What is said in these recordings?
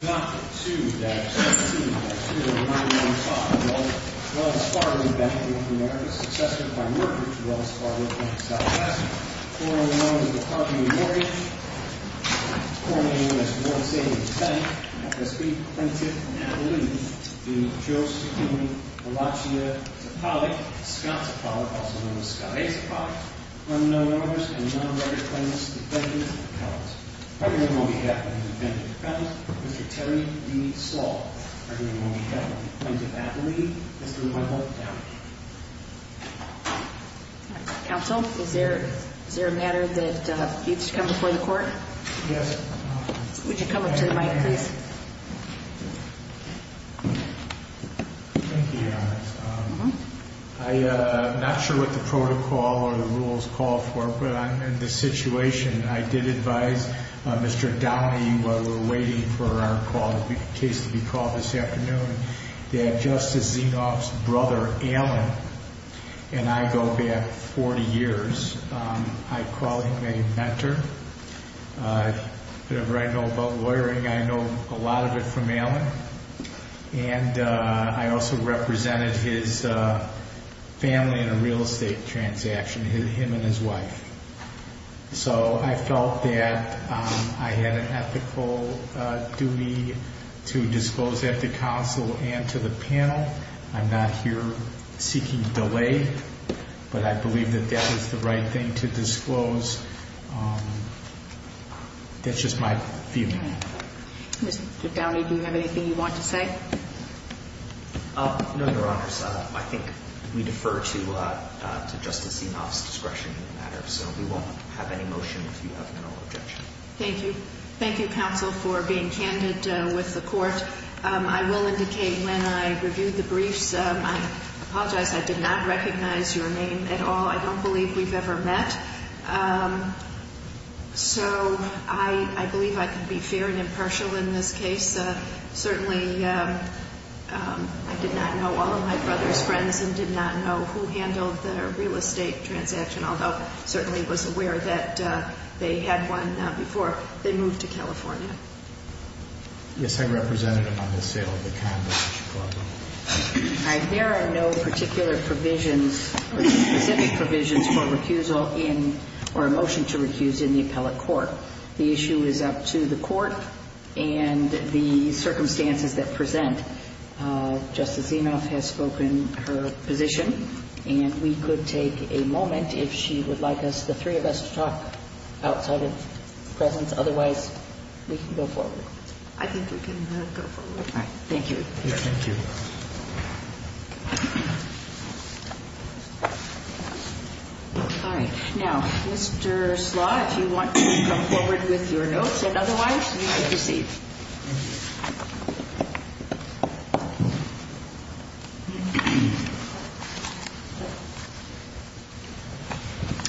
Doctrine 2-17-09-05 Welles Fargo Bank N.A. v. Zapalik Quorum of the members of the Department of Mortgage Quorum of the members of the World Savings Bank F.S.B. Prentiss & Abilene v. Josephine Valachia Zapalik Scott Zapalik, also known as Scott A. Zapalik Unknown owners and non-recorded claimants Defendant Dependents On behalf of the Defendant Dependents, Mr. Terry D. Slaw On behalf of the Dependents of Abilene, Mr. Michael Dowd Counsel, is there a matter that you'd like to come before the court? Yes. Would you come up to the mic, please? Thank you, Your Honor. I'm not sure what the protocol or the rules call for, but I'm in this situation. I did advise Mr. Downey, while we were waiting for our case to be called this afternoon, that Justice Zinoff's brother, Alan, and I go back 40 years. I call him a mentor. Whatever I know about lawyering, I know a lot of it from Alan. And I also represented his family in a real estate transaction, him and his wife. So I felt that I had an ethical duty to disclose that to counsel and to the panel. I'm not here seeking delay, but I believe that that is the right thing to disclose. That's just my feeling. Mr. Downey, do you have anything you want to say? No, Your Honor. I think we defer to Justice Zinoff's discretion in the matter. So we won't have any motion if you have no objection. Thank you. Thank you, counsel, for being candid with the court. I will indicate when I reviewed the briefs, I apologize, I did not recognize your name at all. I don't believe we've ever met. So I believe I can be fair and impartial in this case. Certainly, I did not know all of my brother's friends and did not know who handled the real estate transaction, although certainly was aware that they had one before they moved to California. Yes, I represented him on the sale of the condo in Chicago. All right. There are no particular provisions or specific provisions for recusal in or a motion to recuse in the appellate court. The issue is up to the court and the circumstances that present. Justice Zinoff has spoken her position, and we could take a moment if she would like us, the three of us, to talk outside of presence. Otherwise, we can go forward. I think we can go forward. All right. Thank you. All right. Now, Mr. Slaw, if you want to come forward with your notes and otherwise, you can proceed.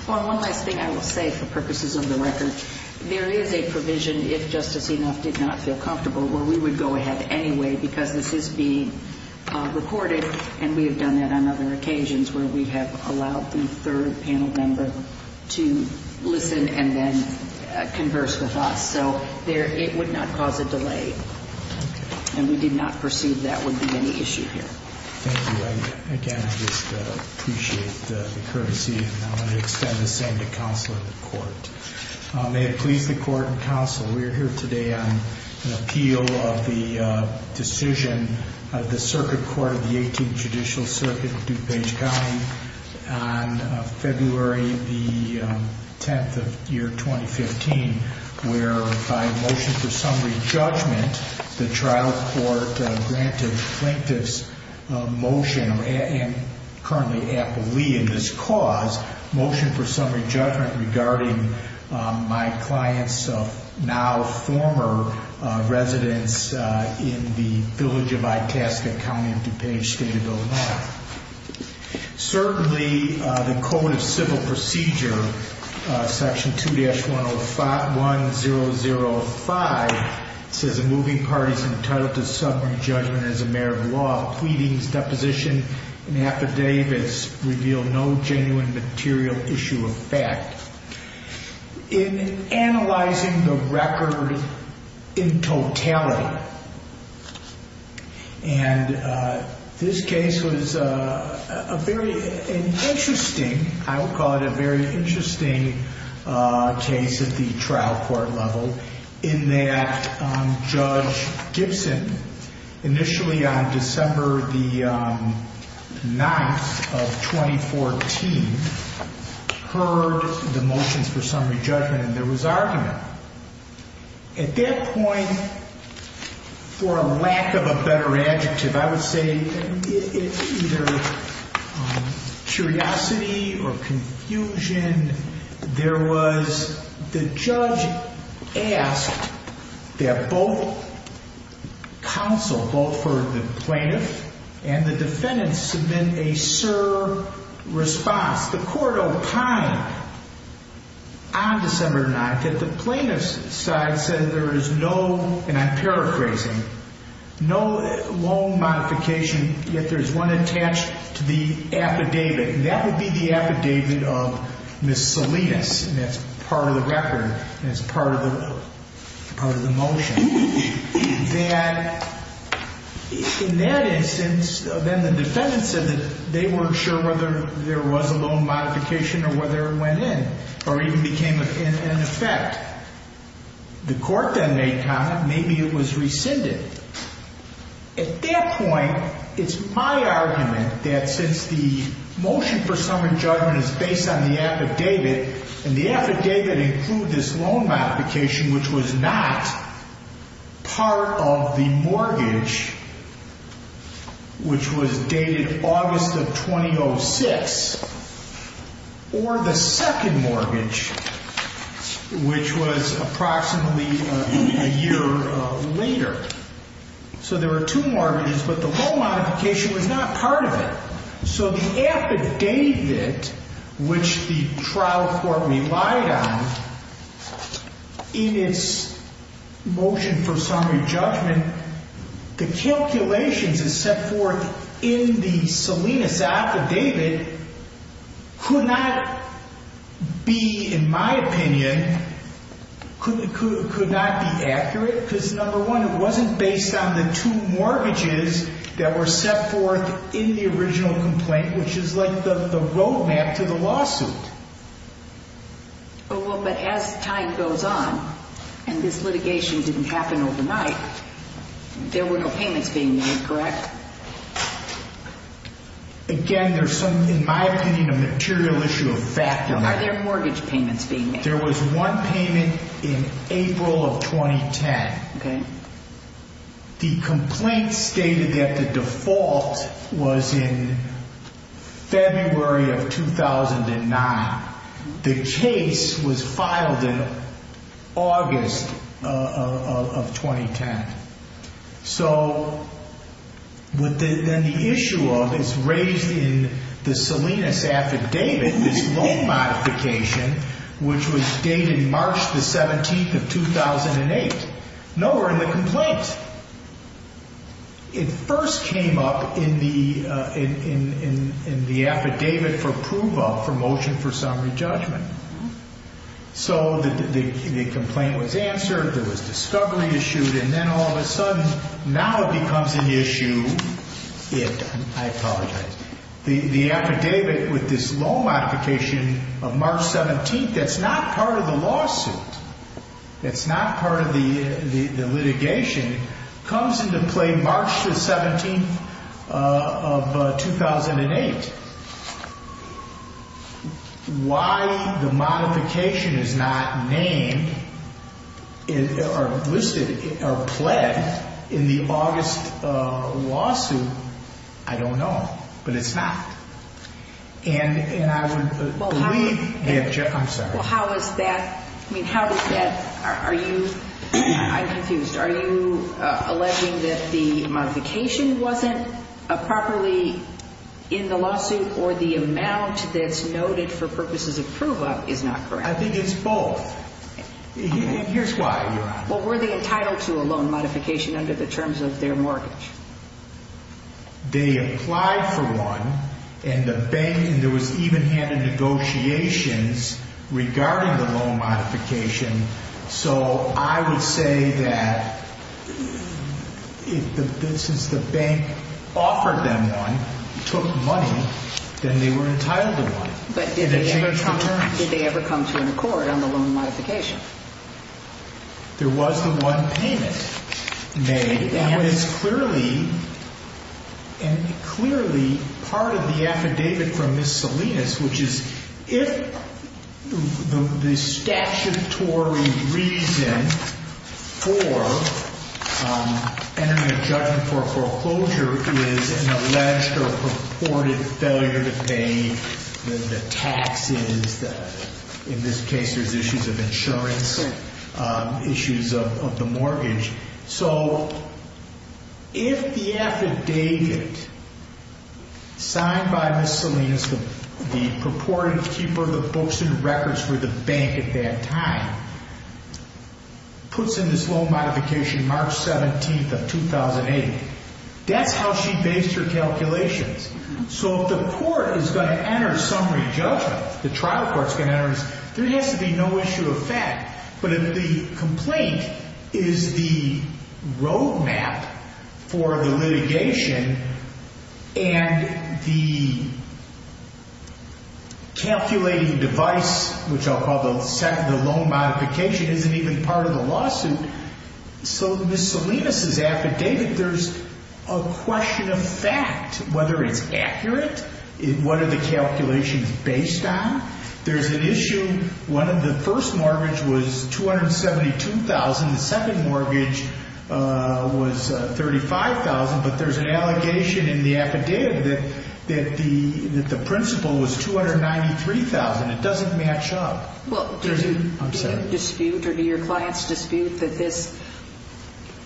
Well, one last thing I will say for purposes of the record. There is a provision, if Justice Zinoff did not feel comfortable, where we would go ahead anyway because this is being recorded, and we have done that on other occasions where we have allowed the third panel member to listen and then converse with us. So it would not cause a delay, and we did not perceive that would be any issue here. Thank you. And again, I just appreciate the courtesy, and I want to extend the same to counsel in the court. May it please the court and counsel, we are here today on an appeal of the decision of the Circuit Court of the Eighteenth Judicial Circuit of DuPage County on February the 10th of year 2015, where by a motion for summary judgment, the trial court granted Plaintiff's motion, and currently appealee in this cause, motion for summary judgment regarding my client's now former residence in the village of Itasca County in DuPage State of Illinois. Certainly, the Code of Civil Procedure, Section 2-1005, says the moving parties entitled to summary judgment as a matter of law, pleadings, deposition, and affidavits reveal no genuine material issue of fact. In analyzing the record in totality, and this case was a very interesting, I would call it a very interesting case at the trial court level, in that Judge Gibson, initially on December the 9th of 2014, heard the motions for summary judgment, and there was argument. At that point, for lack of a better adjective, I would say it's either curiosity or counsel, both for the plaintiff and the defendant, submit a sur response. The court opined on December 9th that the plaintiff's side said there is no, and I'm paraphrasing, no loan modification, yet there's one attached to the affidavit, and that would be the affidavit of Ms. Salinas, and that's part of the record, and it's part of the motion, that in that instance, then the defendant said that they weren't sure whether there was a loan modification or whether it went in, or even became in effect. The court then made comment, maybe it was rescinded. At that point, it's my argument that since the motion for summary judgment is based on the affidavit, and the affidavit included this loan modification, which was not part of the mortgage, which was dated August of 2006, or the second mortgage, which was approximately a year later, so there were two mortgages, but the loan modification was not part of it. So the affidavit, which the trial court relied on, in its motion for summary judgment, the calculations it set forth in the Salinas affidavit could not be, in my opinion, could not be accurate, because number one, it wasn't based on the two mortgages that were set forth in the original complaint, which is like the road map to the lawsuit. Well, but as time goes on, and this litigation didn't happen overnight, there were no payments being made, correct? Again, there's some, in my opinion, a material issue of fact. Are there mortgage payments being made? There was one payment in April of 2010. The complaint stated that the default was in February of 2009. The case was filed in August of 2010. So then the issue is raised in the Salinas affidavit, this loan modification, which was dated March the 17th of 2008. Nowhere in the complaint. It first came up in the affidavit for approval for motion for summary judgment. So the complaint was answered, there was discovery issued, and then all of a sudden, now it becomes an issue, I apologize, the affidavit with this loan modification of March 17th, that's not part of the lawsuit. That's not part of the litigation, comes into play March the 17th of 2008. Why the modification is not named or listed or pled in the August lawsuit, I don't know, but it's not. And I would believe that Jeff, I'm sorry. Well, how is that, I mean, how does that, are you, I'm confused. Are you alleging that the modification wasn't properly in the lawsuit or the amount that's noted for purposes of prove up is not correct? I think it's both. Here's why, Your Honor. Well, were they entitled to a loan modification under the terms of their mortgage? They applied for one, and the bank, and there was even had a negotiations regarding the loan modification. So I would say that if the business, the bank offered them one, took money, then they were entitled to one. But did they ever come to an accord on the loan modification? There was the one payment made. And it's clearly, and clearly part of the affidavit from Ms. Salinas, which is, if the statutory reason for entering a judgment for foreclosure is an alleged or purported failure to pay the taxes, in this case, there's issues of insurance, issues of the mortgage. So if the affidavit signed by Ms. Salinas, the purported keeper of the books and records for the bank at that time, puts in this loan modification March 17th of 2008, that's how she based her calculations. So if the court is going to enter a summary judgment, the trial court's going to enter, there has to be no issue of fact. But if the complaint is the roadmap for the litigation and the calculating device, which I'll call the loan modification, isn't even part of the lawsuit, so Ms. Salinas' affidavit, there's a question of fact, whether it's accurate, what are the calculations based on. There's an issue, one of the first mortgage was $272,000, the second mortgage was $35,000, but there's an allegation in the affidavit that the principal was $293,000. It doesn't match up. Well, do you dispute or do your clients dispute that this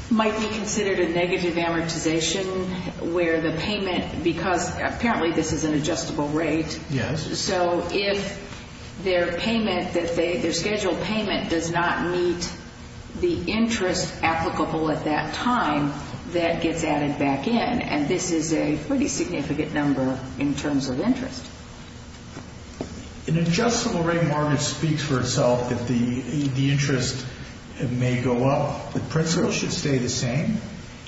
might be considered a negative amortization where the payment, because apparently this is an adjustable rate, so if their payment, their scheduled payment does not meet the interest applicable at that time, that gets added back in. And this is a pretty significant number in terms of interest. An adjustable rate mortgage speaks for itself that the interest may go up. The principal should stay the same.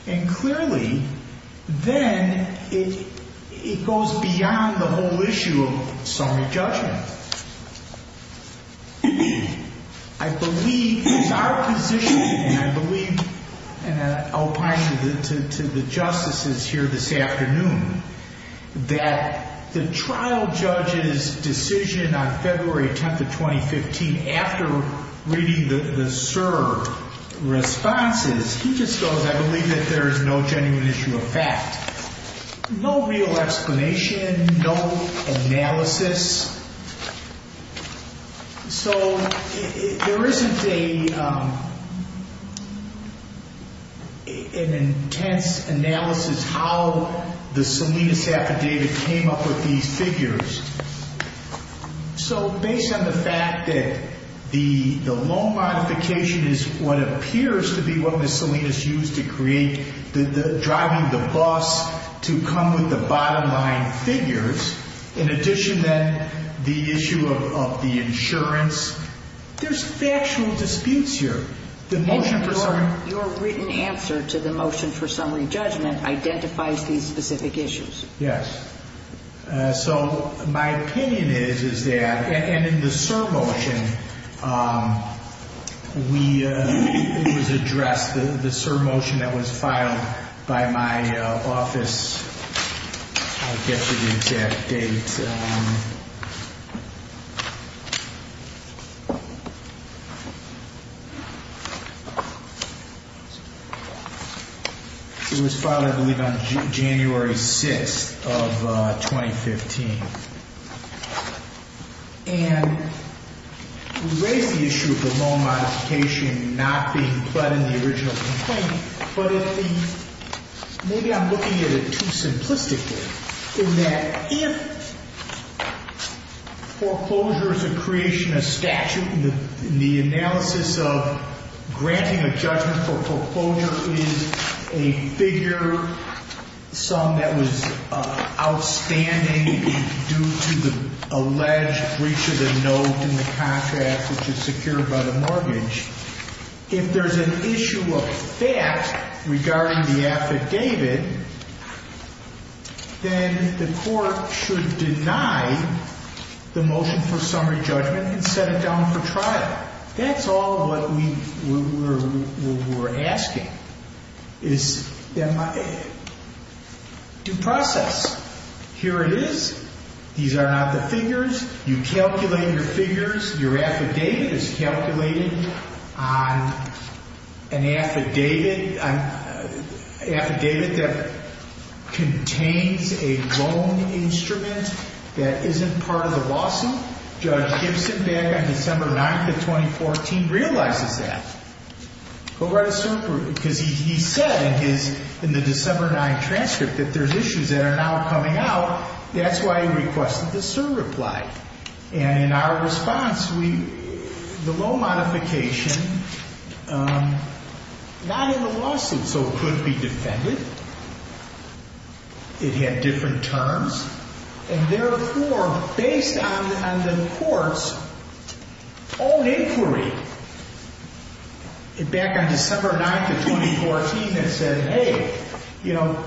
And clearly, then it goes beyond the whole issue of summary judgment. I believe it's our position, and I believe, and I'll point to the justices here this afternoon, that the trial judge's decision on February 10th of 2015, after reading the SIR responses, he just goes, I believe that there is no genuine issue of fact. No real explanation, no analysis. So there isn't an intense analysis how the Salinas affidavit came up with these figures. So, based on the fact that the loan modification is what appears to be what the Salinas used to create, driving the bus to come with the bottom line figures, in addition to the issue of the insurance, there's factual disputes here. And your written answer to the motion for summary judgment identifies these specific issues. Yes. So my opinion is, is that, and in the SIR motion, we, it was addressed, the SIR motion that was filed by my office, I'll get to the exact date. It was filed, I believe, on January 6th of 2015. And we raised the issue of the loan modification not being but in the original complaint, but in the, maybe I'm looking at it too simplistically, in that if foreclosure is a creation of statute in the analysis of granting a judgment for foreclosure is a figure, some that was outstanding due to the alleged breach of the note in the contract, which is secured by the mortgage, if there's an issue of that regarding the affidavit, then the court should deny the motion for summary judgment and set it down for trial. That's all what we were asking, is, am I, due process. Here it is. These are not the figures. You calculate your figures. Your affidavit is calculated on an affidavit, an affidavit that contains a loan instrument that isn't part of the lawsuit. Judge Gibson back on December 9th of 2014 realizes that. Go write a cert, because he said in his, in the December 9th transcript that there's issues that are now coming out. That's why he requested the cert reply. And in our response, we, the loan modification, not in the lawsuit, so it could be defended. It had different terms. And therefore, based on the court's own inquiry, back on December 9th of 2014, it said, hey, you know,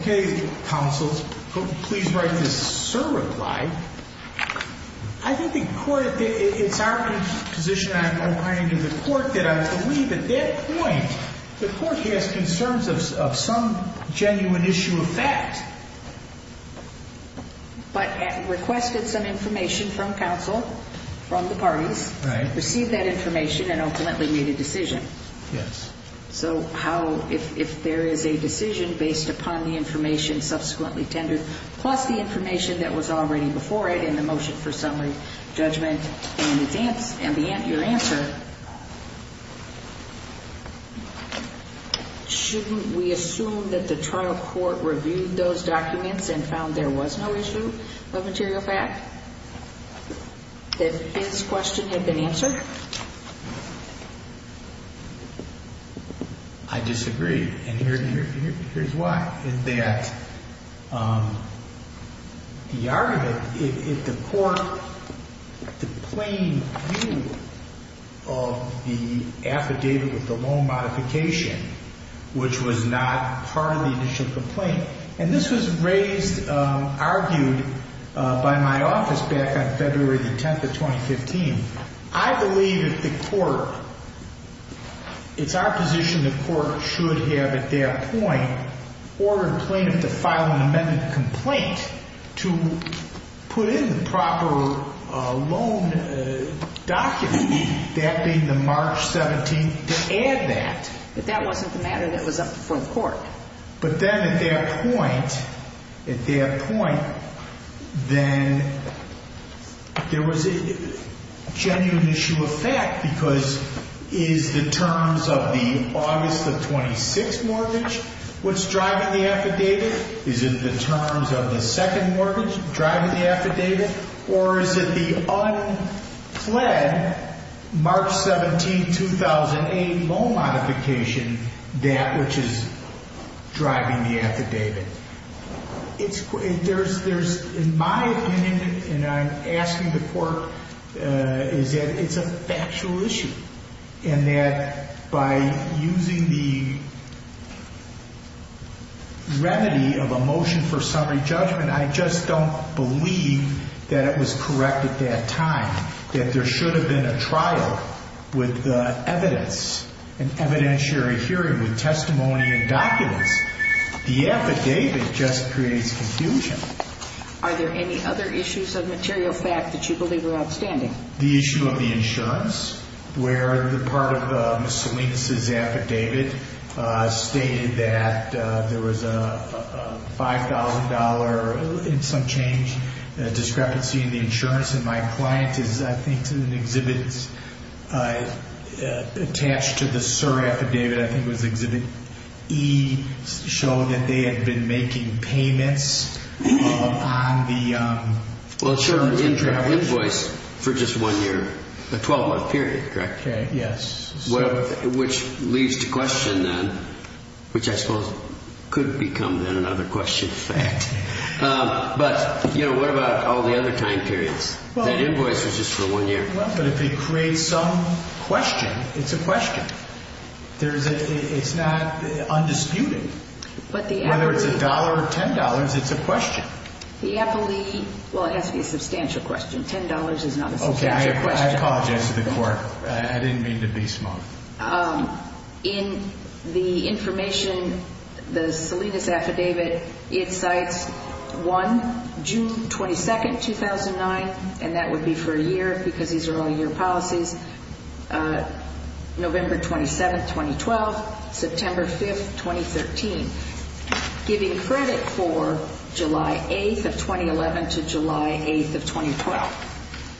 okay, counsels, please write this cert reply. I think the court, it's our position, I'm opining to the court, that I believe at that point, the court has concerns of some genuine issue of fact. But requested some information from counsel, from the parties. Right. Received that information and ultimately made a decision. Yes. So how, if there is a decision based upon the information subsequently tendered, plus the information that was already before it in the motion for summary judgment and advance, and your answer, shouldn't we assume that the trial court reviewed those documents and found there was no issue of material fact? That his question had been answered? I disagree. And here's why. Is that the argument, if the court, the plain view of the affidavit with the loan modification, which was not part of the initial complaint, and this was raised, argued by my office back on February the 10th of 2015, I believe that the court, it's our position the court should have at that point, ordered plaintiff to file an amendment complaint to put in the proper loan document, that being the March 17th, to add that. But that wasn't the matter that was up before the court. But then at that point, at that point, then there was a genuine issue of fact, because is the terms of the August of 26 mortgage what's driving the affidavit? Is it the terms of the second mortgage driving the affidavit? Or is it the unpled March 17, 2008 loan modification, that which is driving the affidavit? In my opinion, and I'm asking the court, is that it's a factual issue. And that by using the remedy of a motion for summary judgment, I just don't believe that it was correct at that time. That there should have been a trial with evidence, an evidentiary hearing with testimony and documents. The affidavit just creates confusion. Are there any other issues of material fact that you believe are outstanding? The issue of the insurance, where the part of Ms. Salinas' affidavit stated that there was a $5,000, in some change, discrepancy in the insurance. And my client is, I think, in an exhibit attached to the SIR affidavit. I think it was exhibit E, showing that they had been making payments on the insurance. Well, sure, they didn't have an invoice for just one year, a 12-month period, correct? Okay, yes. Which leads to question then, which I suppose could become then another question fact. But what about all the other time periods? That invoice was just for one year. But if it creates some question, it's a question. It's not undisputed. Whether it's $1 or $10, it's a question. The appellee, well, it has to be a substantial question. Okay, I apologize to the court. I didn't mean to be smug. In the information, the Salinas affidavit, it cites one, June 22nd, 2009, and that would be for a year, because these are all year policies, November 27th, 2012, September 5th, 2013, giving credit for July 8th of 2011 to July 8th of 2012.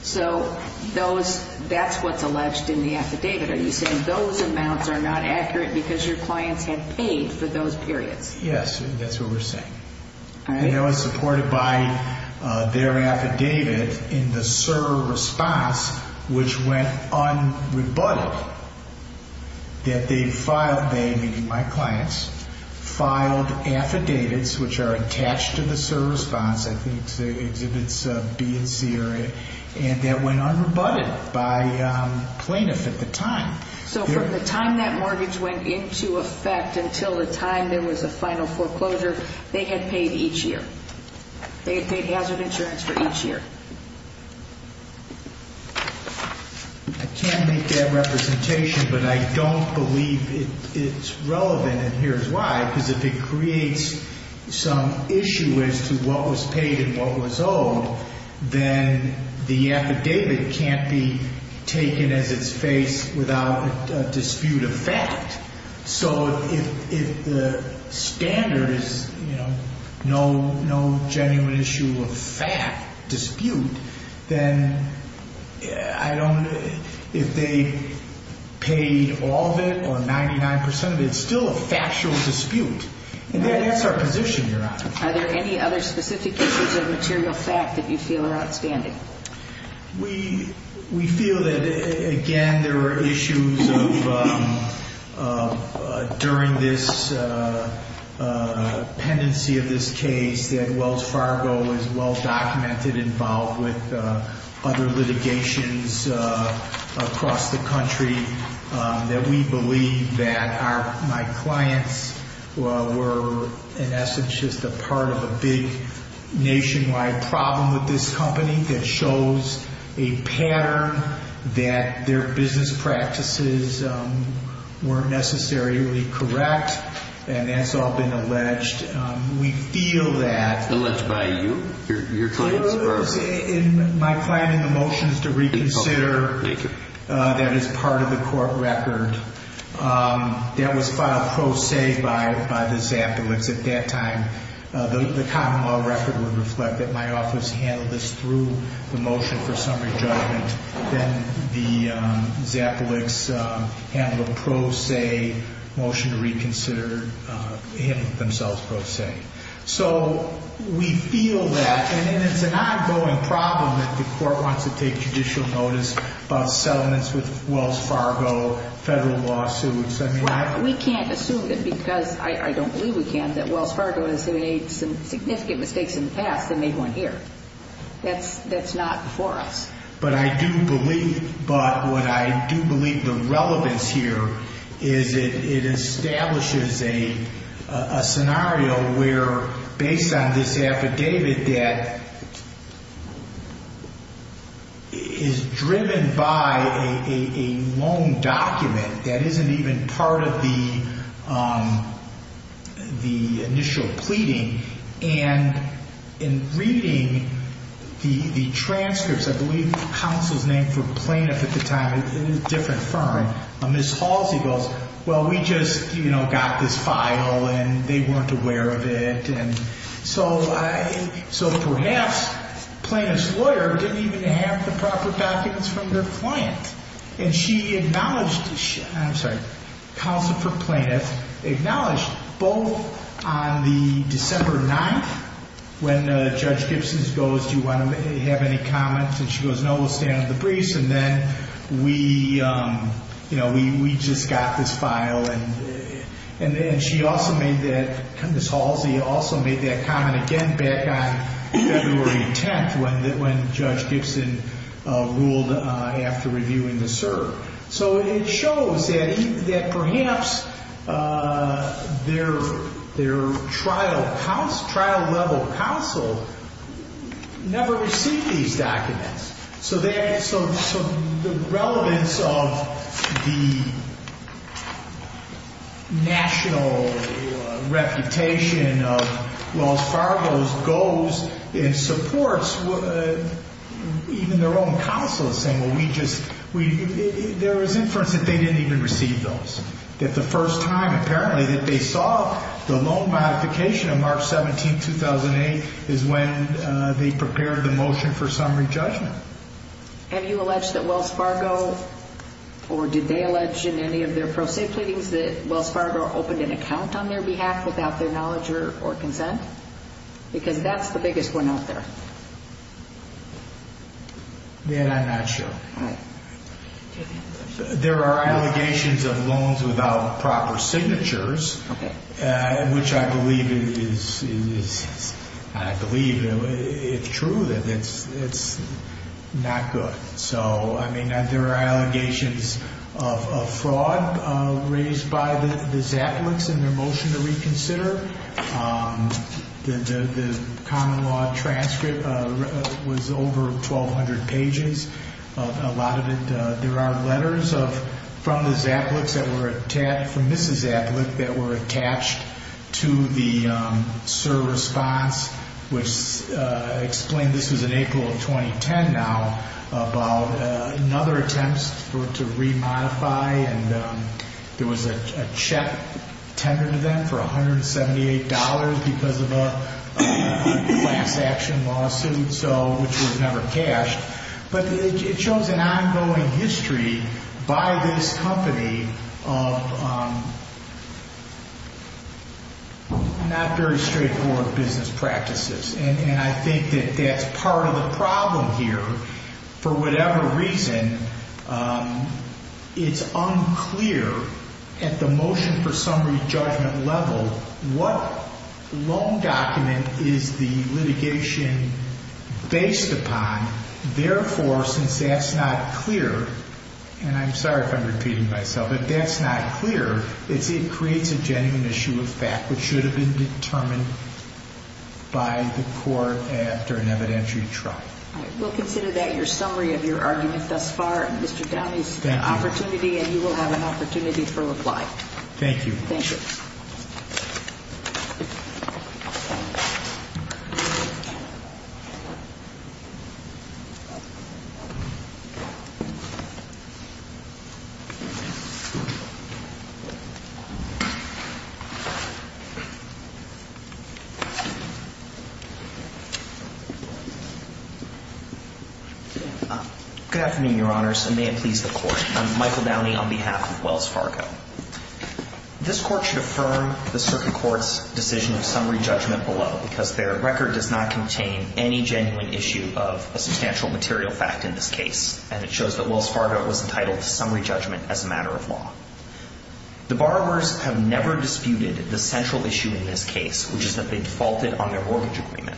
So that's what's alleged in the affidavit. Are you saying those amounts are not accurate because your clients had paid for those periods? Yes, that's what we're saying. It was supported by their affidavit in the SIR response, which went unrebutted, that they filed, they, meaning my clients, filed affidavits which are attached to the SIR response. I think it exhibits B and C area, and that went unrebutted by plaintiff at the time. So from the time that mortgage went into effect until the time there was a final foreclosure, they had paid each year. They had paid hazard insurance for each year. I can't make that representation, but I don't believe it's relevant, and here's why. Because if it creates some issue as to what was paid and what was owed, then the affidavit can't be taken as its face without a dispute of fact. So if the standard is no genuine issue of fact, dispute, then if they paid all of it or 99% of it, it's still a factual dispute, and that's our position, Your Honor. Are there any other specific issues of material fact that you feel are outstanding? We feel that, again, there were issues of, during this pendency of this case, that Wells Fargo is well documented, involved with other litigations across the country, that we believe that my clients were, in essence, just a part of a big nationwide problem with this company that shows a pattern that their business practices weren't necessarily correct, and that's all been alleged. We feel that... Alleged by you, your clients? In my client, in the motions to reconsider, that is part of the court record, that was filed pro se by the Zappolix. At that time, the common law record would reflect that my office handled this through the motion for summary judgment, then the Zappolix handled a pro se motion to reconsider, handing themselves pro se. So we feel that, and it's an ongoing problem that the court wants to take judicial notice about settlements with Wells Fargo, federal lawsuits. We can't assume that because, I don't believe we can, that Wells Fargo has made some significant mistakes in the past and made one here. That's not before us. But I do believe the relevance here is it establishes a scenario where, based on this affidavit that is driven by a loan document that isn't even part of the initial pleading, and in reading the transcripts, I believe counsel's name for plaintiff at the time, it was a different firm, Ms. Halsey goes, well, we just got this file and they weren't aware of it. So perhaps plaintiff's lawyer didn't even have the proper documents from their client. And she acknowledged, I'm sorry, counsel for plaintiff acknowledged both on the December 9th, when Judge Gibson goes, do you want to have any comments? And she goes, no, we'll stand at the briefs. And then we just got this file. And then she also made that, Ms. Halsey also made that comment again back on February 10th when Judge Gibson ruled after reviewing the cert. So it shows that perhaps their trial level counsel never received these documents. So the relevance of the national reputation of Los Fargos goes and supports even their own counsel saying, well, we just, there was inference that they didn't even receive those. That the first time apparently that they saw the loan modification of March 17th, 2008 is when they prepared the motion for summary judgment. Have you alleged that Wells Fargo, or did they allege in any of their pro se pleadings that Wells Fargo opened an account on their behalf without their knowledge or consent? Because that's the biggest one out there. I'm not sure. There are allegations of loans without proper signatures, which I believe is, I believe it's true that it's not good. So, I mean, there are allegations of fraud raised by the Zappalinks in their motion to reconsider. The common law transcript was over 1,200 pages. A lot of it, there are letters from the Zappalinks that were attached, from Mrs. Zappalink that were attached to the cert response, which explained this was in April of 2010 now about another attempt to remodify. And there was a check tendered to them for $178 because of a class action lawsuit, so which was never cashed. But it shows an ongoing history by this company of not very straightforward business practices. And I think that that's part of the problem here. For whatever reason, it's unclear at the motion for summary judgment level, what loan document is the litigation based upon? Therefore, since that's not clear, and I'm sorry if I'm repeating myself, but that's not clear, it creates a genuine issue of fact which should have been determined by the court after an evidentiary trial. All right. We'll consider that your summary of your argument thus far and Mr. Downey's opportunity and you will have an opportunity for reply. Thank you. Thank you. Good afternoon, your honors, and may it please the court. I'm Michael Downey on behalf of Wells Fargo. This court should affirm the circuit court's decision of summary judgment below because their record does not contain any genuine issue of a substantial material fact in this case. And it shows that Wells Fargo was entitled to summary judgment as a matter of law. The borrowers have never disputed the central issue in this case, which is that they defaulted on their mortgage agreement.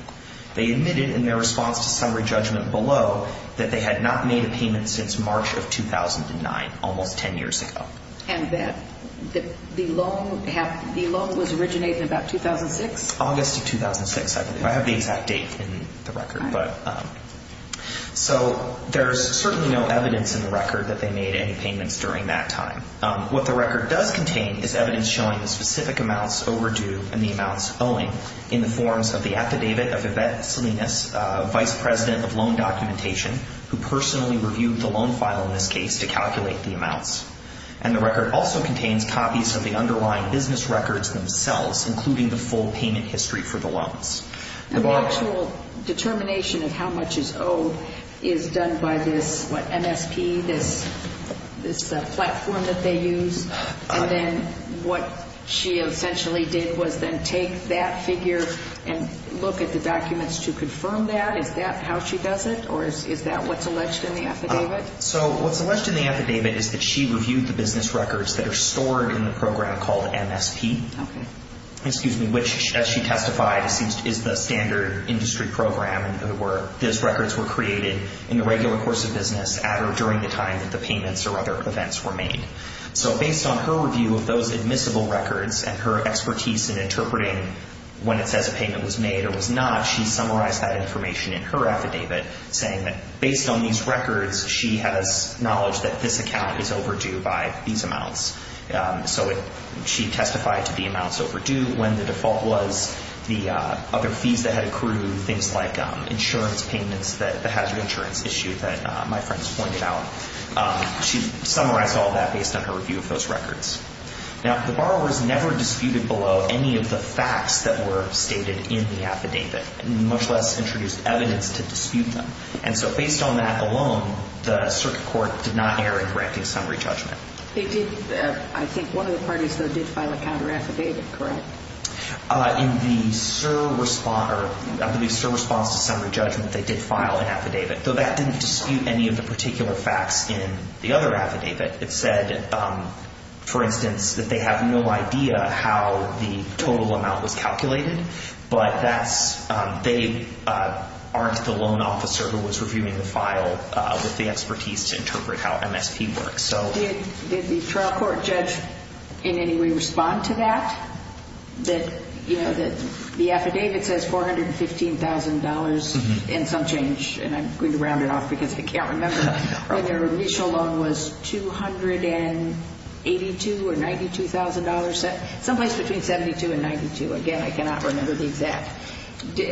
They admitted in their response to summary judgment below that they had not made a payment since March of 2009, almost 10 years ago. And that the loan was originated in about 2006? August of 2006, I believe. I have the exact date in the record. But so there's certainly no evidence in the record that they made any payments during that time. What the record does contain is evidence showing the specific amounts overdue and the affidavit of Yvette Salinas, Vice President of Loan Documentation, who personally reviewed the loan file in this case to calculate the amounts. And the record also contains copies of the underlying business records themselves, including the full payment history for the loans. And the actual determination of how much is owed is done by this, what, MSP, this platform that they use? And then what she essentially did was then take that figure and look at the documents to confirm that. Is that how she does it? Or is that what's alleged in the affidavit? So what's alleged in the affidavit is that she reviewed the business records that are stored in the program called MSP, which, as she testified, is the standard industry program. Those records were created in the regular course of business at or during the time that the payments or other events were made. So based on her review of those admissible records and her expertise in interpreting when it says a payment was made or was not, she summarized that information in her affidavit saying that based on these records, she has knowledge that this account is overdue by these amounts. So she testified to the amounts overdue when the default was the other fees that had accrued, things like insurance payments, the hazard insurance issue that my friends pointed out. She summarized all that based on her review of those records. Now, the borrowers never disputed below any of the facts that were stated in the affidavit, much less introduced evidence to dispute them. And so based on that alone, the circuit court did not err in correcting summary judgment. They did. I think one of the parties, though, did file a counter affidavit, correct? In the SIR response to summary judgment, they did file an affidavit, though that didn't facts in the other affidavit. It said, for instance, that they have no idea how the total amount was calculated, but that's, they aren't the loan officer who was reviewing the file with the expertise to interpret how MSP works. So did the trial court judge in any way respond to that? The affidavit says $415,000 in some change, and I'm going to round it off because I can't remember whether initial loan was $282,000 or $92,000, someplace between $72,000 and $92,000. Again, I cannot remember the exact.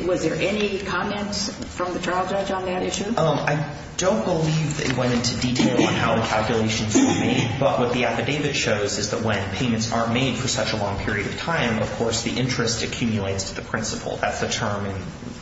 Was there any comments from the trial judge on that issue? I don't believe they went into detail on how the calculations were made. But what the affidavit shows is that when payments are made for such a long period of time, of course, the interest accumulates to the principal. That's the term in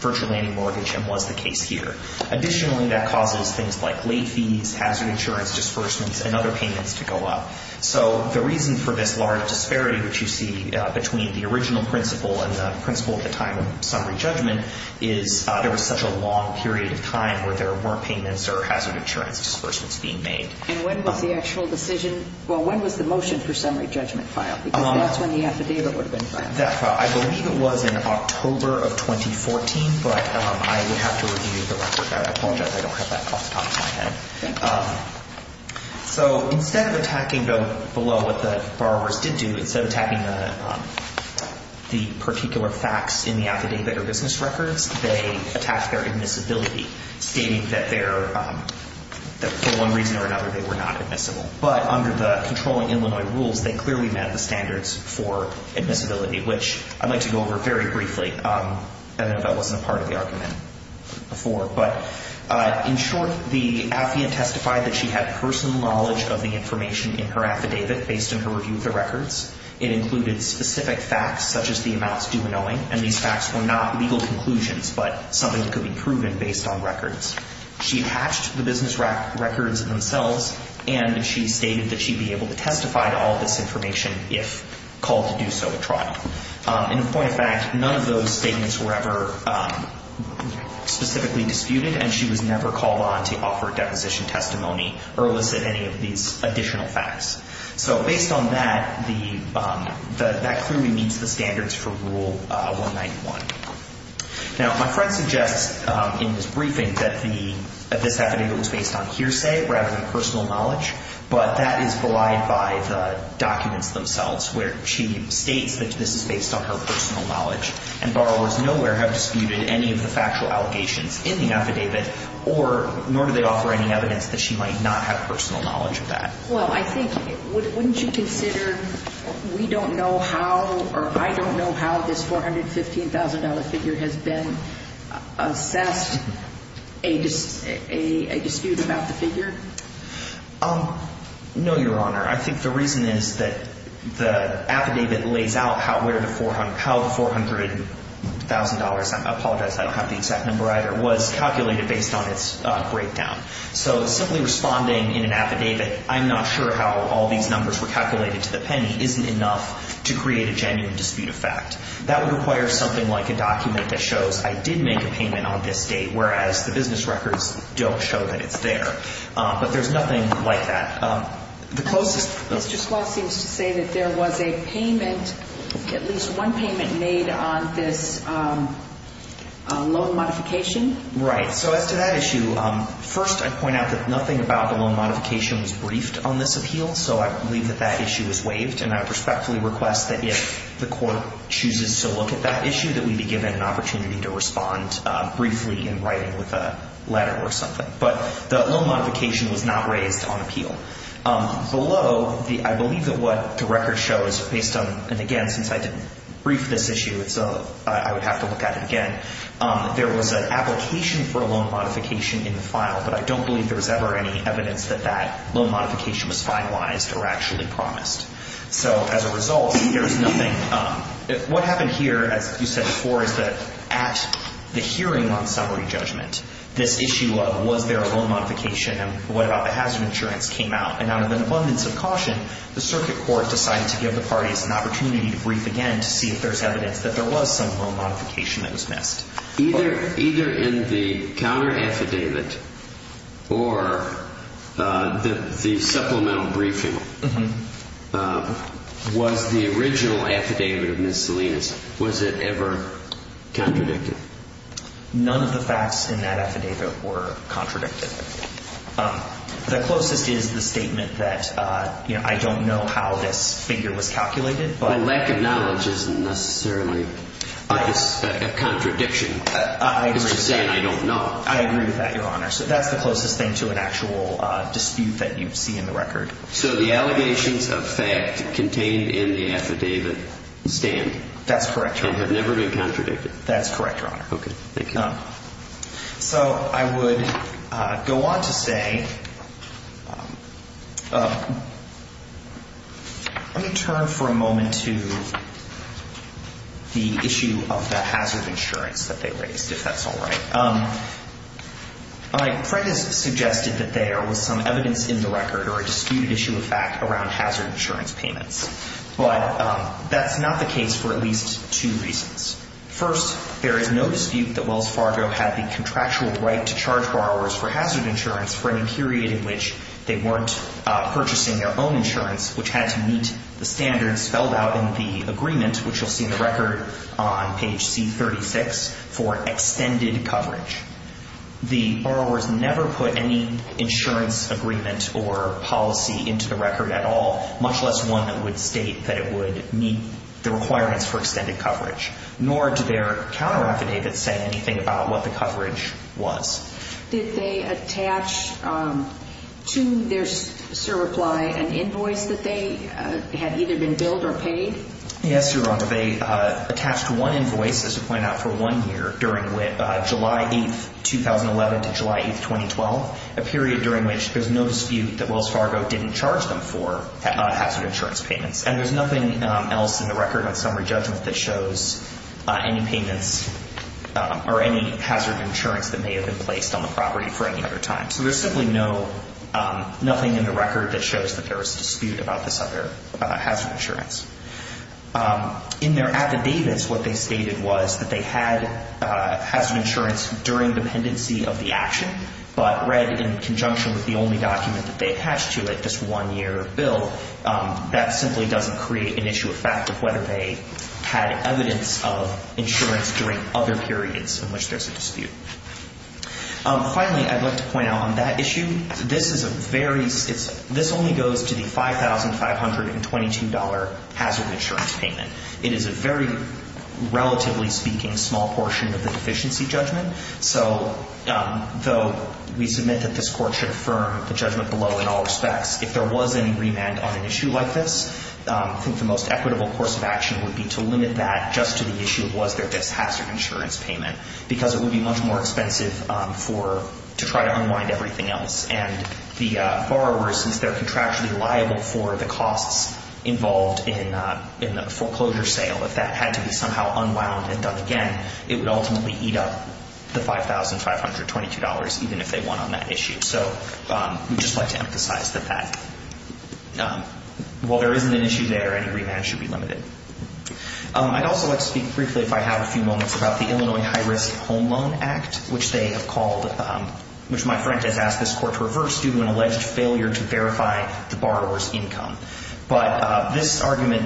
virtual landing mortgage and was the case here. Additionally, that causes things like late fees, hazard insurance disbursements, and other payments to go up. So the reason for this large disparity, which you see between the original principal and the principal at the time of summary judgment, is there was such a long period of time where there weren't payments or hazard insurance disbursements being made. And when was the actual decision, well, when was the motion for summary judgment filed? Because that's when the affidavit would have been filed. I believe it was in October of 2014. But I would have to review the record. I apologize. I don't have that off the top of my head. So instead of attacking below what the borrowers did do, instead of attacking the particular facts in the affidavit or business records, they attacked their admissibility, stating that for one reason or another, they were not admissible. But under the controlling Illinois rules, they clearly met the standards for admissibility, which I'd like to go over very briefly. I know that wasn't a part of the argument before. But in short, the affidavit testified that she had personal knowledge of the information in her affidavit based on her review of the records. It included specific facts, such as the amounts due and owing. And these facts were not legal conclusions, but something that could be proven based on records. She hatched the business records themselves, and she stated that she'd be able to testify to all of this information if called to do so at trial. In point of fact, none of those statements were ever specifically disputed, and she was never called on to offer a deposition testimony or elicit any of these additional facts. So based on that, that clearly meets the standards for Rule 191. Now, my friend suggests in his briefing that this affidavit was based on hearsay rather than personal knowledge. But that is belied by the documents themselves, where she states that this is based on her personal knowledge, and borrowers nowhere have disputed any of the factual allegations in the affidavit, nor do they offer any evidence that she might not have personal knowledge of that. Well, I think wouldn't you consider we don't know how or I don't know how this $415,000 figure has been assessed a dispute about the figure? No, Your Honor. I think the reason is that the affidavit lays out how the $400,000, I apologize, I don't have the exact number either, was calculated based on its breakdown. So simply responding in an affidavit, I'm not sure how all these numbers were calculated to the penny, isn't enough to create a genuine dispute effect. That would require something like a document that shows I did make a payment on this date, whereas the business records don't show that it's there. But there's nothing like that. The closest... Mr. Squaw seems to say that there was a payment, at least one payment made on this loan modification. Right. So as to that issue, first I point out that nothing about the loan modification was briefed on this appeal. So I believe that that issue is waived. And I respectfully request that if the court chooses to look at that issue, that we be given an opportunity to respond briefly in writing with a letter or something. But the loan modification was not raised on appeal. Below, I believe that what the record shows, based on... And again, since I didn't brief this issue, I would have to look at it again. There was an application for a loan modification in the file, but I don't believe there was ever any evidence that that loan modification was finalized or actually promised. So as a result, there is nothing... What happened here, as you said before, is that at the hearing on summary judgment, this issue of was there a loan modification and what about the hazard insurance came out. And out of an abundance of caution, the circuit court decided to give the parties an opportunity to brief again to see if there's evidence that there was some loan modification that was missed. Either in the counter affidavit or the supplemental briefing, was the original affidavit of Ms. Salinas, was it ever contradicted? None of the facts in that affidavit were contradicted. The closest is the statement that, you know, I don't know how this figure was calculated, but... Lack of knowledge isn't necessarily a contradiction. It's just saying I don't know. I agree with that, Your Honor. So that's the closest thing to an actual dispute that you see in the record. So the allegations of fact contained in the affidavit stand. That's correct, Your Honor. And have never been contradicted. That's correct, Your Honor. Okay, thank you. So I would go on to say... Let me turn for a moment to the issue of the hazard insurance that they raised, if that's all right. My friend has suggested that there was some evidence in the record or a disputed issue of fact around hazard insurance payments, but that's not the case for at least two reasons. First, there is no dispute that Wells Fargo had the contractual right to charge borrowers for hazard insurance for any period in which they weren't purchasing their own insurance, which had to meet the standards spelled out in the agreement, which you'll see in the record on page C-36, for extended coverage. The borrowers never put any insurance agreement or policy into the record at all, much less one that would state that it would meet the requirements for extended coverage. Nor did their counter affidavit say anything about what the coverage was. Did they attach to their certify an invoice that they had either been billed or paid? Yes, Your Honor. They attached one invoice, as you point out, for one year during July 8th, 2011 to July 8th, 2012, a period during which there's no dispute that Wells Fargo didn't charge them for hazard insurance payments. And there's nothing else in the record on summary judgment that shows any payments or any hazard insurance that may have been placed on the property for any other time. So there's simply nothing in the record that shows that there was a dispute about this other hazard insurance. In their affidavits, what they stated was that they had hazard insurance during dependency of the action, but read in conjunction with the only document that they attached to it, this one year of bill, that simply doesn't create an issue of fact of whether they had evidence of insurance during other periods in which there's a dispute. Finally, I'd like to point out on that issue, this only goes to the $5,522 hazard insurance payment. It is a very, relatively speaking, small portion of the deficiency judgment. So though we submit that this court should affirm the judgment below in all respects, if there was any remand on an issue like this, I think the most equitable course of action would be to limit that just to the issue of was there this hazard insurance payment, because it would be much more expensive to try to unwind everything else. And the borrower, since they're contractually liable for the costs involved in the foreclosure sale, if that had to be somehow unwound and done again, it would ultimately eat up the $5,522, even if they won on that issue. So we'd just like to emphasize that that, while there isn't an issue there, any remand should be limited. I'd also like to speak briefly, if I have a few moments, about the Illinois High Risk Home Loan Act, which they have called, which my friend has asked this court to reverse due to an alleged failure to verify the borrower's income. But this argument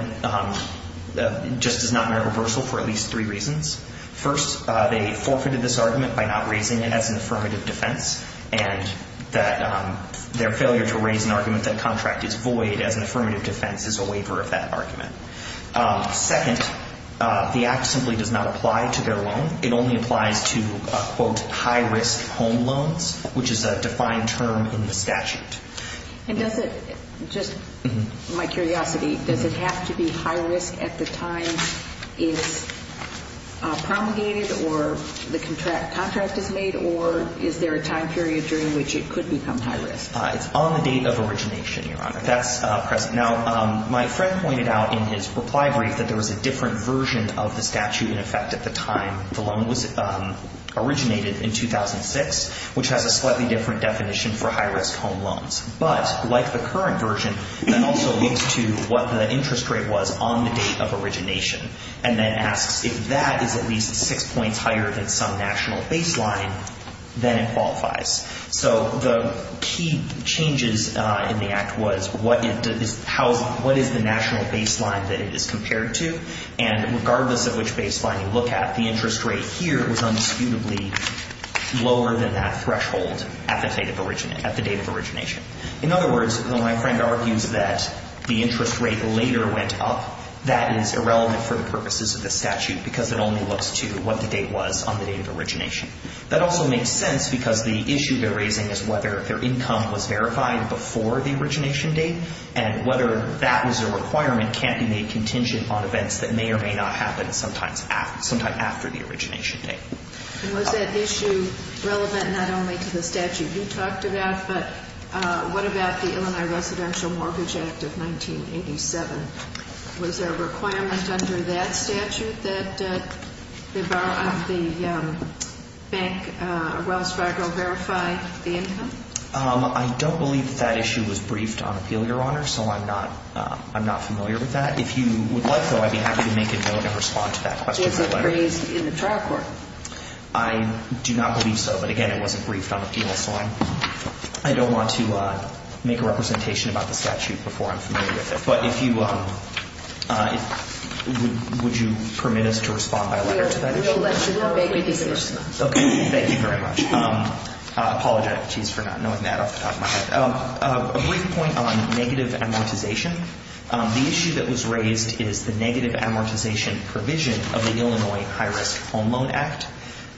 just is not in reversal for at least three reasons. First, they forfeited this argument by not raising it as an affirmative defense, and that their failure to raise an argument that contract is void as an affirmative defense is a waiver of that argument. Second, the act simply does not apply to their loan. It only applies to, quote, high risk home loans, which is a defined term in the statute. And does it, just my curiosity, does it have to be high risk at the time it's promulgated or the contract is made, or is there a time period during which it could become high risk? It's on the date of origination, Your Honor. That's present. Now, my friend pointed out in his reply brief that there was a different version of the statute, in effect, at the time the loan was originated in 2006, which has a slightly different definition for high risk home loans. But like the current version, that also leads to what the interest rate was on the date of origination, and then asks if that is at least six points higher than some national baseline, then it qualifies. So the key changes in the act was what is the national baseline that it is compared to, and regardless of which baseline you look at, the interest rate here was undisputably lower than that threshold at the date of origination. In other words, my friend argues that the interest rate later went up. That is irrelevant for the purposes of the statute because it only looks to what the date was on the date of origination. That also makes sense because the issue they're raising is whether their income was verified before the origination date, and whether that was a requirement can't be made contingent on events that may or may not happen sometime after the origination date. Was that issue relevant not only to the statute you talked about, but what about the Illinois Residential Mortgage Act of 1987? Was there a requirement under that statute that the bank, Wells Fargo, verify the income? I don't believe that that issue was briefed on appeal, Your Honor, so I'm not familiar with that. If you would like, though, I'd be happy to make a note and respond to that question. Was it raised in the trial court? I do not believe so, but again, it wasn't briefed on the appeal, so I don't want to make a representation about the statute before I'm familiar with it. But if you would you permit us to respond by letter to that issue? We'll let you know. Make a decision. Okay. Thank you very much. I apologize for not knowing that off the top of my head. A brief point on negative amortization. The issue that was raised is the negative amortization provision of the Illinois High Risk Home Loan Act.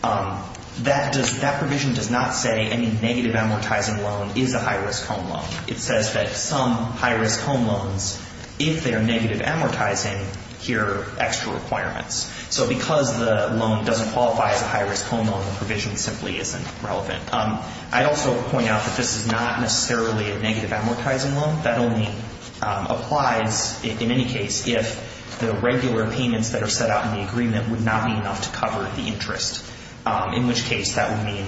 That provision does not say any negative amortizing loan is a high-risk home loan. It says that some high-risk home loans, if they're negative amortizing, hear extra requirements. So because the loan doesn't qualify as a high-risk home loan, the provision simply isn't relevant. I'd also point out that this is not necessarily a negative amortizing loan. That only applies, in any case, if the regular payments that are set out in the agreement would not be enough to cover the interest, in which case that would mean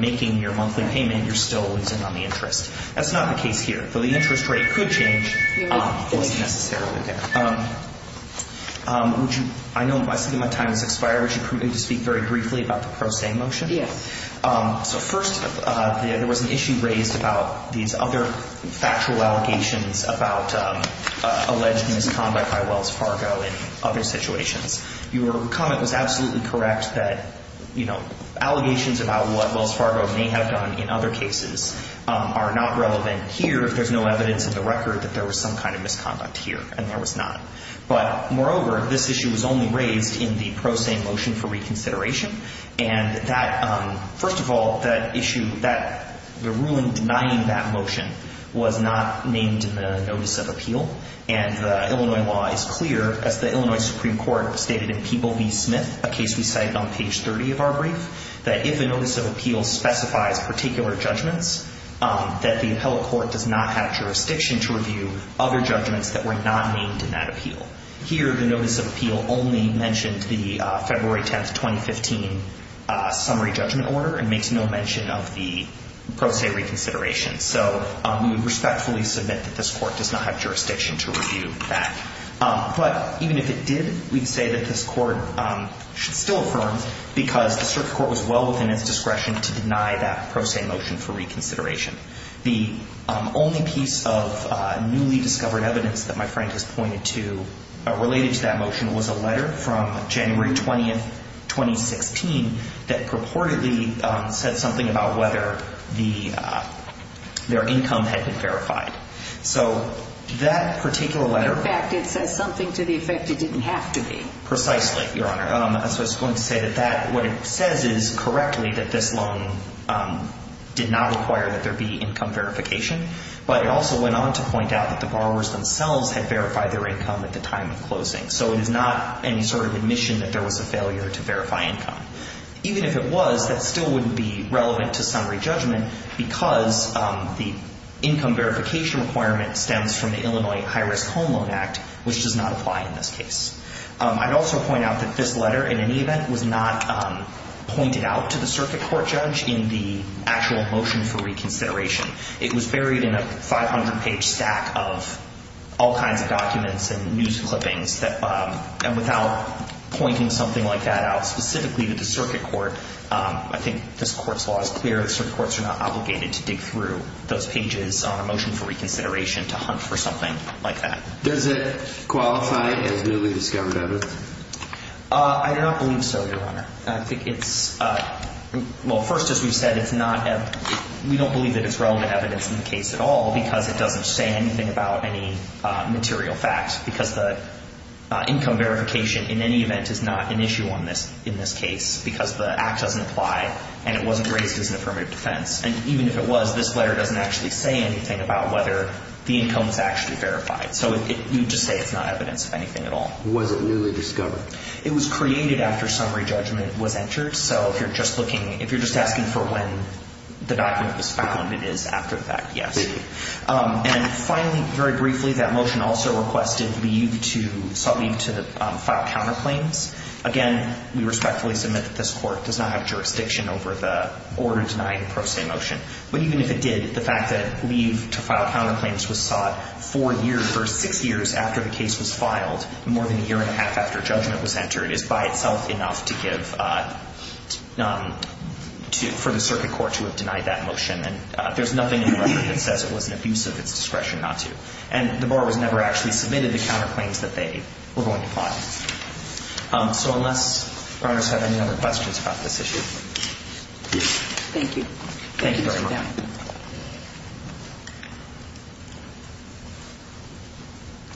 making your monthly payment, you're still losing on the interest. That's not the case here. Though the interest rate could change, it's not necessarily there. I know my time has expired. Would you permit me to speak very briefly about the pro se motion? Yes. So first, there was an issue raised about these other factual allegations about alleged misconduct by Wells Fargo in other situations. Your comment was absolutely correct that, you know, allegations about what Wells Fargo may have done in other cases are not relevant here if there's no evidence in the record that there was some kind of misconduct here, and there was not. But moreover, this issue was only raised in the pro se motion for reconsideration. And that, first of all, that issue that the ruling denying that motion was not named in the notice of appeal. And the Illinois law is clear, as the Illinois Supreme Court stated in People v. Smith, a case we cited on page 30 of our brief, that if a notice of appeal specifies particular judgments, that the appellate court does not have jurisdiction to review other judgments that were not named in that appeal. Here, the notice of appeal only mentioned the February 10, 2015 summary judgment order and makes no mention of the pro se reconsideration. So we would respectfully submit that this court does not have jurisdiction to review that. But even if it did, we'd say that this court should still affirm because the circuit court was well within its discretion to deny that pro se motion for reconsideration. The only piece of newly discovered evidence that my friend has pointed to related to that motion was a letter from January 20, 2016, that purportedly said something about whether their income had been verified. So that particular letter- In fact, it says something to the effect it didn't have to be. Precisely, Your Honor. So I was going to say that what it says is correctly that this loan did not require that income verification, but it also went on to point out that the borrowers themselves had verified their income at the time of closing. So it is not any sort of admission that there was a failure to verify income. Even if it was, that still wouldn't be relevant to summary judgment because the income verification requirement stems from the Illinois High Risk Home Loan Act, which does not apply in this case. I'd also point out that this letter, in any event, was not pointed out to the circuit court judge in the actual motion for reconsideration. It was buried in a 500-page stack of all kinds of documents and news clippings. And without pointing something like that out specifically to the circuit court, I think this court's law is clear. The circuit courts are not obligated to dig through those pages on a motion for reconsideration to hunt for something like that. Does it qualify as newly discovered evidence? I do not believe so, Your Honor. I think it's – well, first, as we've said, it's not – we don't believe that it's relevant evidence in the case at all because it doesn't say anything about any material fact, because the income verification, in any event, is not an issue in this case because the act doesn't apply and it wasn't raised as an affirmative defense. And even if it was, this letter doesn't actually say anything about whether the income was actually verified. So you'd just say it's not evidence of anything at all. Was it newly discovered? It was created after summary judgment was entered. So if you're just looking – if you're just asking for when the document was found, it is after the fact, yes. And finally, very briefly, that motion also requested leave to – sought leave to file counterclaims. Again, we respectfully submit that this court does not have jurisdiction over the order denying a pro se motion. But even if it did, the fact that leave to file counterclaims was sought four years versus six years after the case was filed, more than a year and a half after judgment was entered, is by itself enough to give – for the circuit court to have denied that motion. And there's nothing in the record that says it was an abuse of its discretion not to. And the bar was never actually submitted the counterclaims that they were going to file. So unless your honors have any other questions about this issue. Thank you. Thank you very much.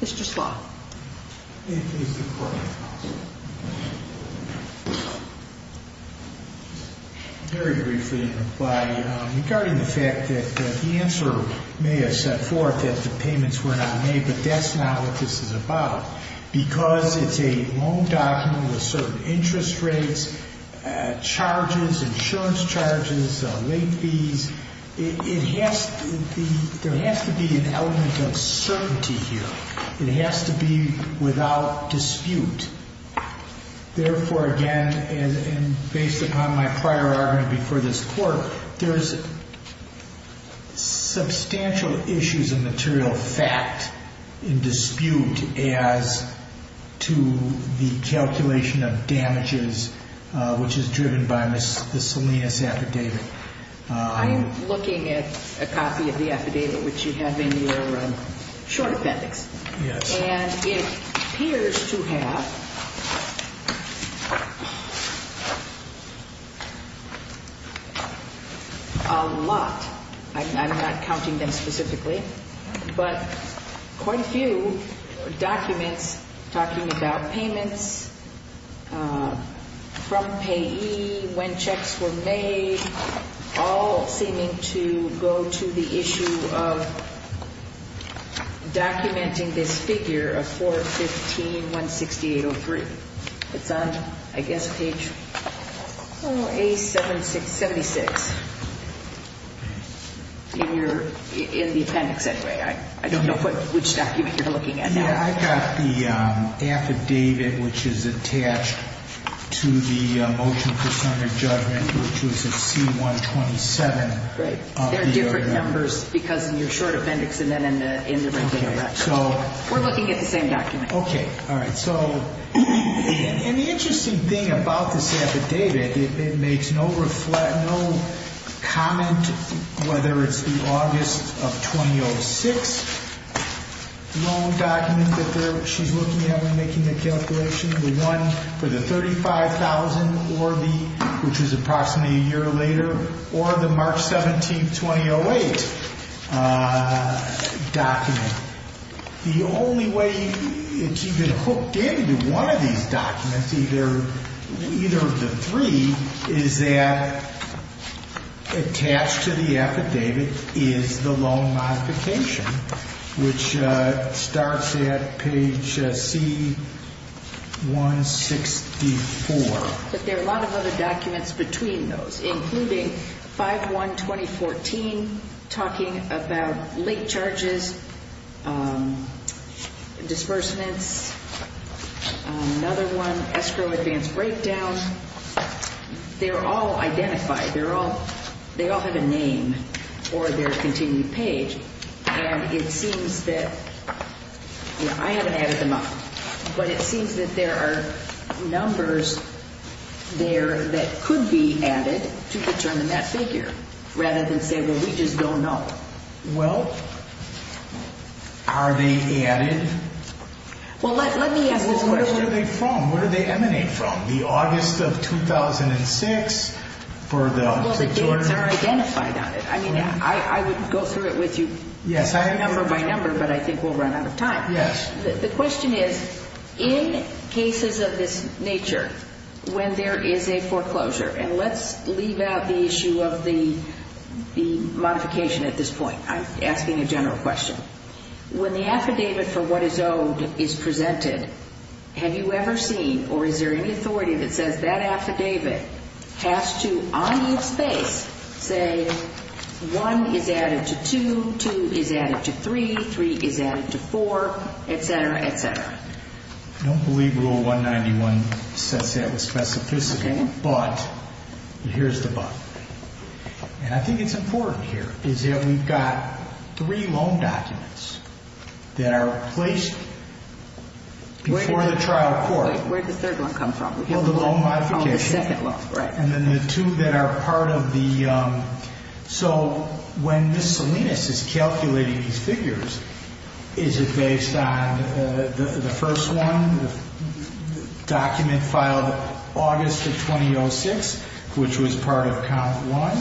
Mr. Slott. If the court has no other questions. Very briefly in reply, regarding the fact that the answer may have set forth that the payments were not made, but that's not what this is about. Because it's a loan document with certain interest rates, charges, insurance charges, late fees, it has to be – there has to be an element of certainty here. It has to be without dispute. Therefore, again, and based upon my prior argument before this court, there's substantial issues of material fact in dispute as to the calculation of damages, which is driven by Ms. Salinas' affidavit. I'm looking at a copy of the affidavit which you have in your short appendix. And it appears to have a lot, I'm not counting them specifically, but quite a few documents talking about payments from payee, when checks were made, all seeming to go to the issue of documenting this figure of 415-168-03. It's on, I guess, page 76 in the appendix, anyway. I don't know which document you're looking at now. Yeah, I've got the affidavit which is attached to the motion for certain judgment, which was at C-127. Right. They're different numbers because in your short appendix and then in the regular record. Okay, so – We're looking at the same document. Okay. All right. So, and the interesting thing about this affidavit, it makes no comment whether it's the August of 2006 loan document that she's looking at when making the calculation, the for the 35,000 or the, which is approximately a year later, or the March 17, 2008 document. The only way it's even hooked into one of these documents, either of the three, is that there are a lot of other documents between those, including 5-1-2014, talking about late charges, disbursements, another one, escrow advance breakdown. They're all identified. They're all, they all have a name or their continued page, and it seems that, I haven't added them up, but it seems that there are numbers there that could be added to determine that figure, rather than say, well, we just don't know. Well, are they added? Well, let me ask this question. Well, where are they from? Where do they emanate from? The August of 2006 for the Georgia – Well, the dates are identified on it. I mean, I would go through it with you – Yes, I – Number by number, but I think we'll run out of time. Yes. The question is, in cases of this nature, when there is a foreclosure, and let's leave out the issue of the modification at this point. I'm asking a general question. When the affidavit for what is owed is presented, have you ever seen, or is there any authority that says that affidavit has to, on its face, say one is added to two, two is added to three, three is added to four, et cetera, et cetera? I don't believe Rule 191 says that with specificity. Okay. But here's the but. And I think it's important here, is that we've got three loan documents that are placed before the trial court. Where did the third one come from? Well, the loan modification. Oh, the second one, right. And then the two that are part of the – so when Ms. Salinas is calculating these figures, is it based on the first one, the document filed August of 2006, which was part of count one?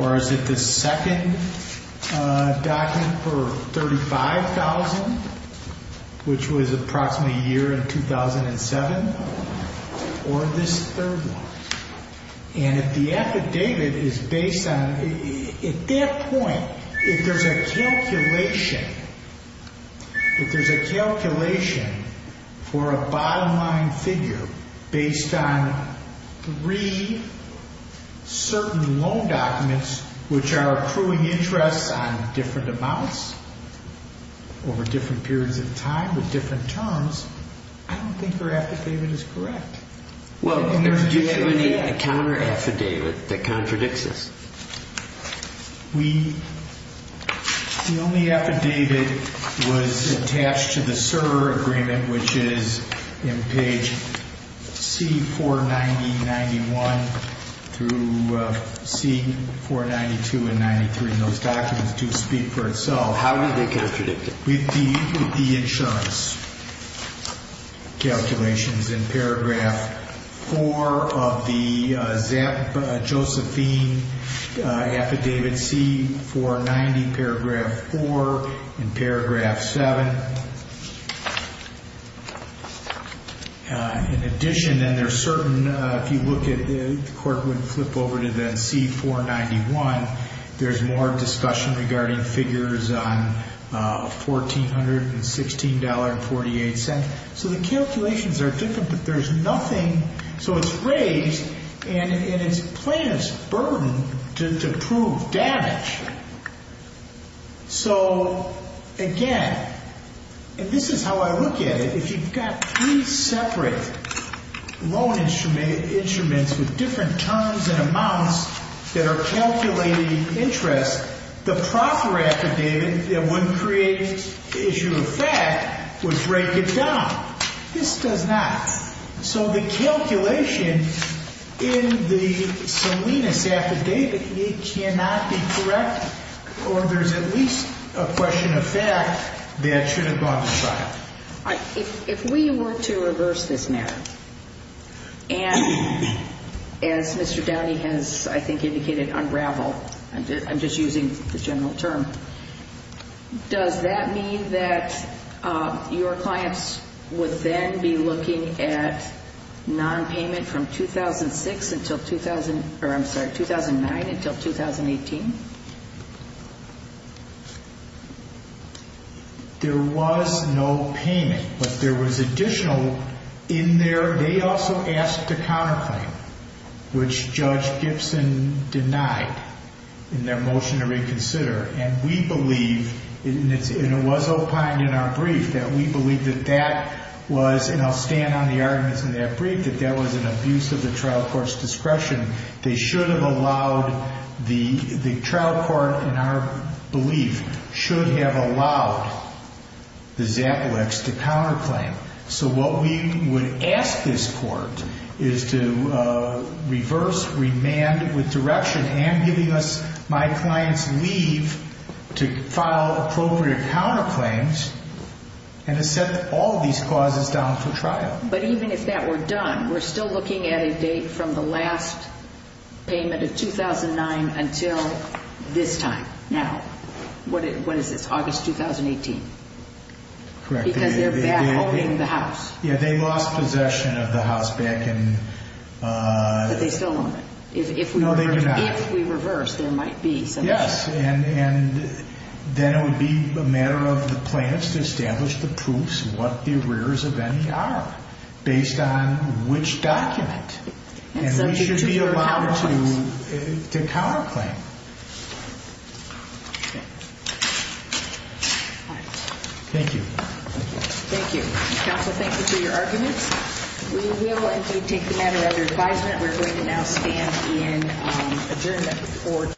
Or is it the second document for $35,000, which was approximately a year in 2007? Or this third one? And if the affidavit is based on – at that point, if there's a calculation, if there's a calculation for a bottom line figure based on three certain loan documents, which are accruing interests on different amounts, over different periods of time, with different terms, I don't think her affidavit is correct. Well, do you have any counter-affidavit that contradicts this? We – the only affidavit was attached to the server agreement, which is in page C490.91 through C492 and 93. Those documents do speak for itself. How do they contradict it? With the insurance calculations in paragraph four of the Josephine affidavit, C490, paragraph four, and paragraph seven. In addition, and they're certain – if you look at – the court would flip over to then C491. There's more discussion regarding figures on $1,416.48. So the calculations are different, but there's nothing – so it's raised, and it's plaintiff's burden to prove damage. So, again, and this is how I look at it. If you've got three separate loan instruments with different terms and amounts that are calculating interest, the proper affidavit that wouldn't create the issue of fact would break it down. This does not. So the calculation in the Salinas affidavit, it cannot be correct, or there's at least a question of fact that should have gone to trial. All right. If we were to reverse this narrative, and as Mr. Downey has, I think, indicated, unraveled – I'm just using the general term – does that mean that your clients would then be looking at nonpayment from 2006 until – or, I'm sorry, 2009 until 2018? There was no payment, but there was additional in there. They also asked to counterclaim, which Judge Gibson denied in their motion to reconsider. And we believe, and it was opined in our brief, that we believe that that was – and I'll stand on the arguments in that brief – that that was an abuse of the trial court's discretion. They should have allowed the – the trial court, in our belief, should have allowed the Zaplecs to counterclaim. So what we would ask this Court is to reverse, remand with direction, and giving us my client's leave to file appropriate counterclaims, and to set all these clauses down for trial. But even if that were done, we're still looking at a date from the last payment of 2009 until this time now. What is this, August 2018? Correct. Because they're back holding the house. Yeah, they lost possession of the house back in – But they still own it. If we reverse, there might be some – Yes, and then it would be a matter of the plaintiffs to establish the proofs of what the arrears of any are. Based on which document. And we should be allowed to counterclaim. Thank you. Thank you. Counsel, thank you for your arguments. We will, indeed, take the matter under advisement. We're going to now stand in adjournment for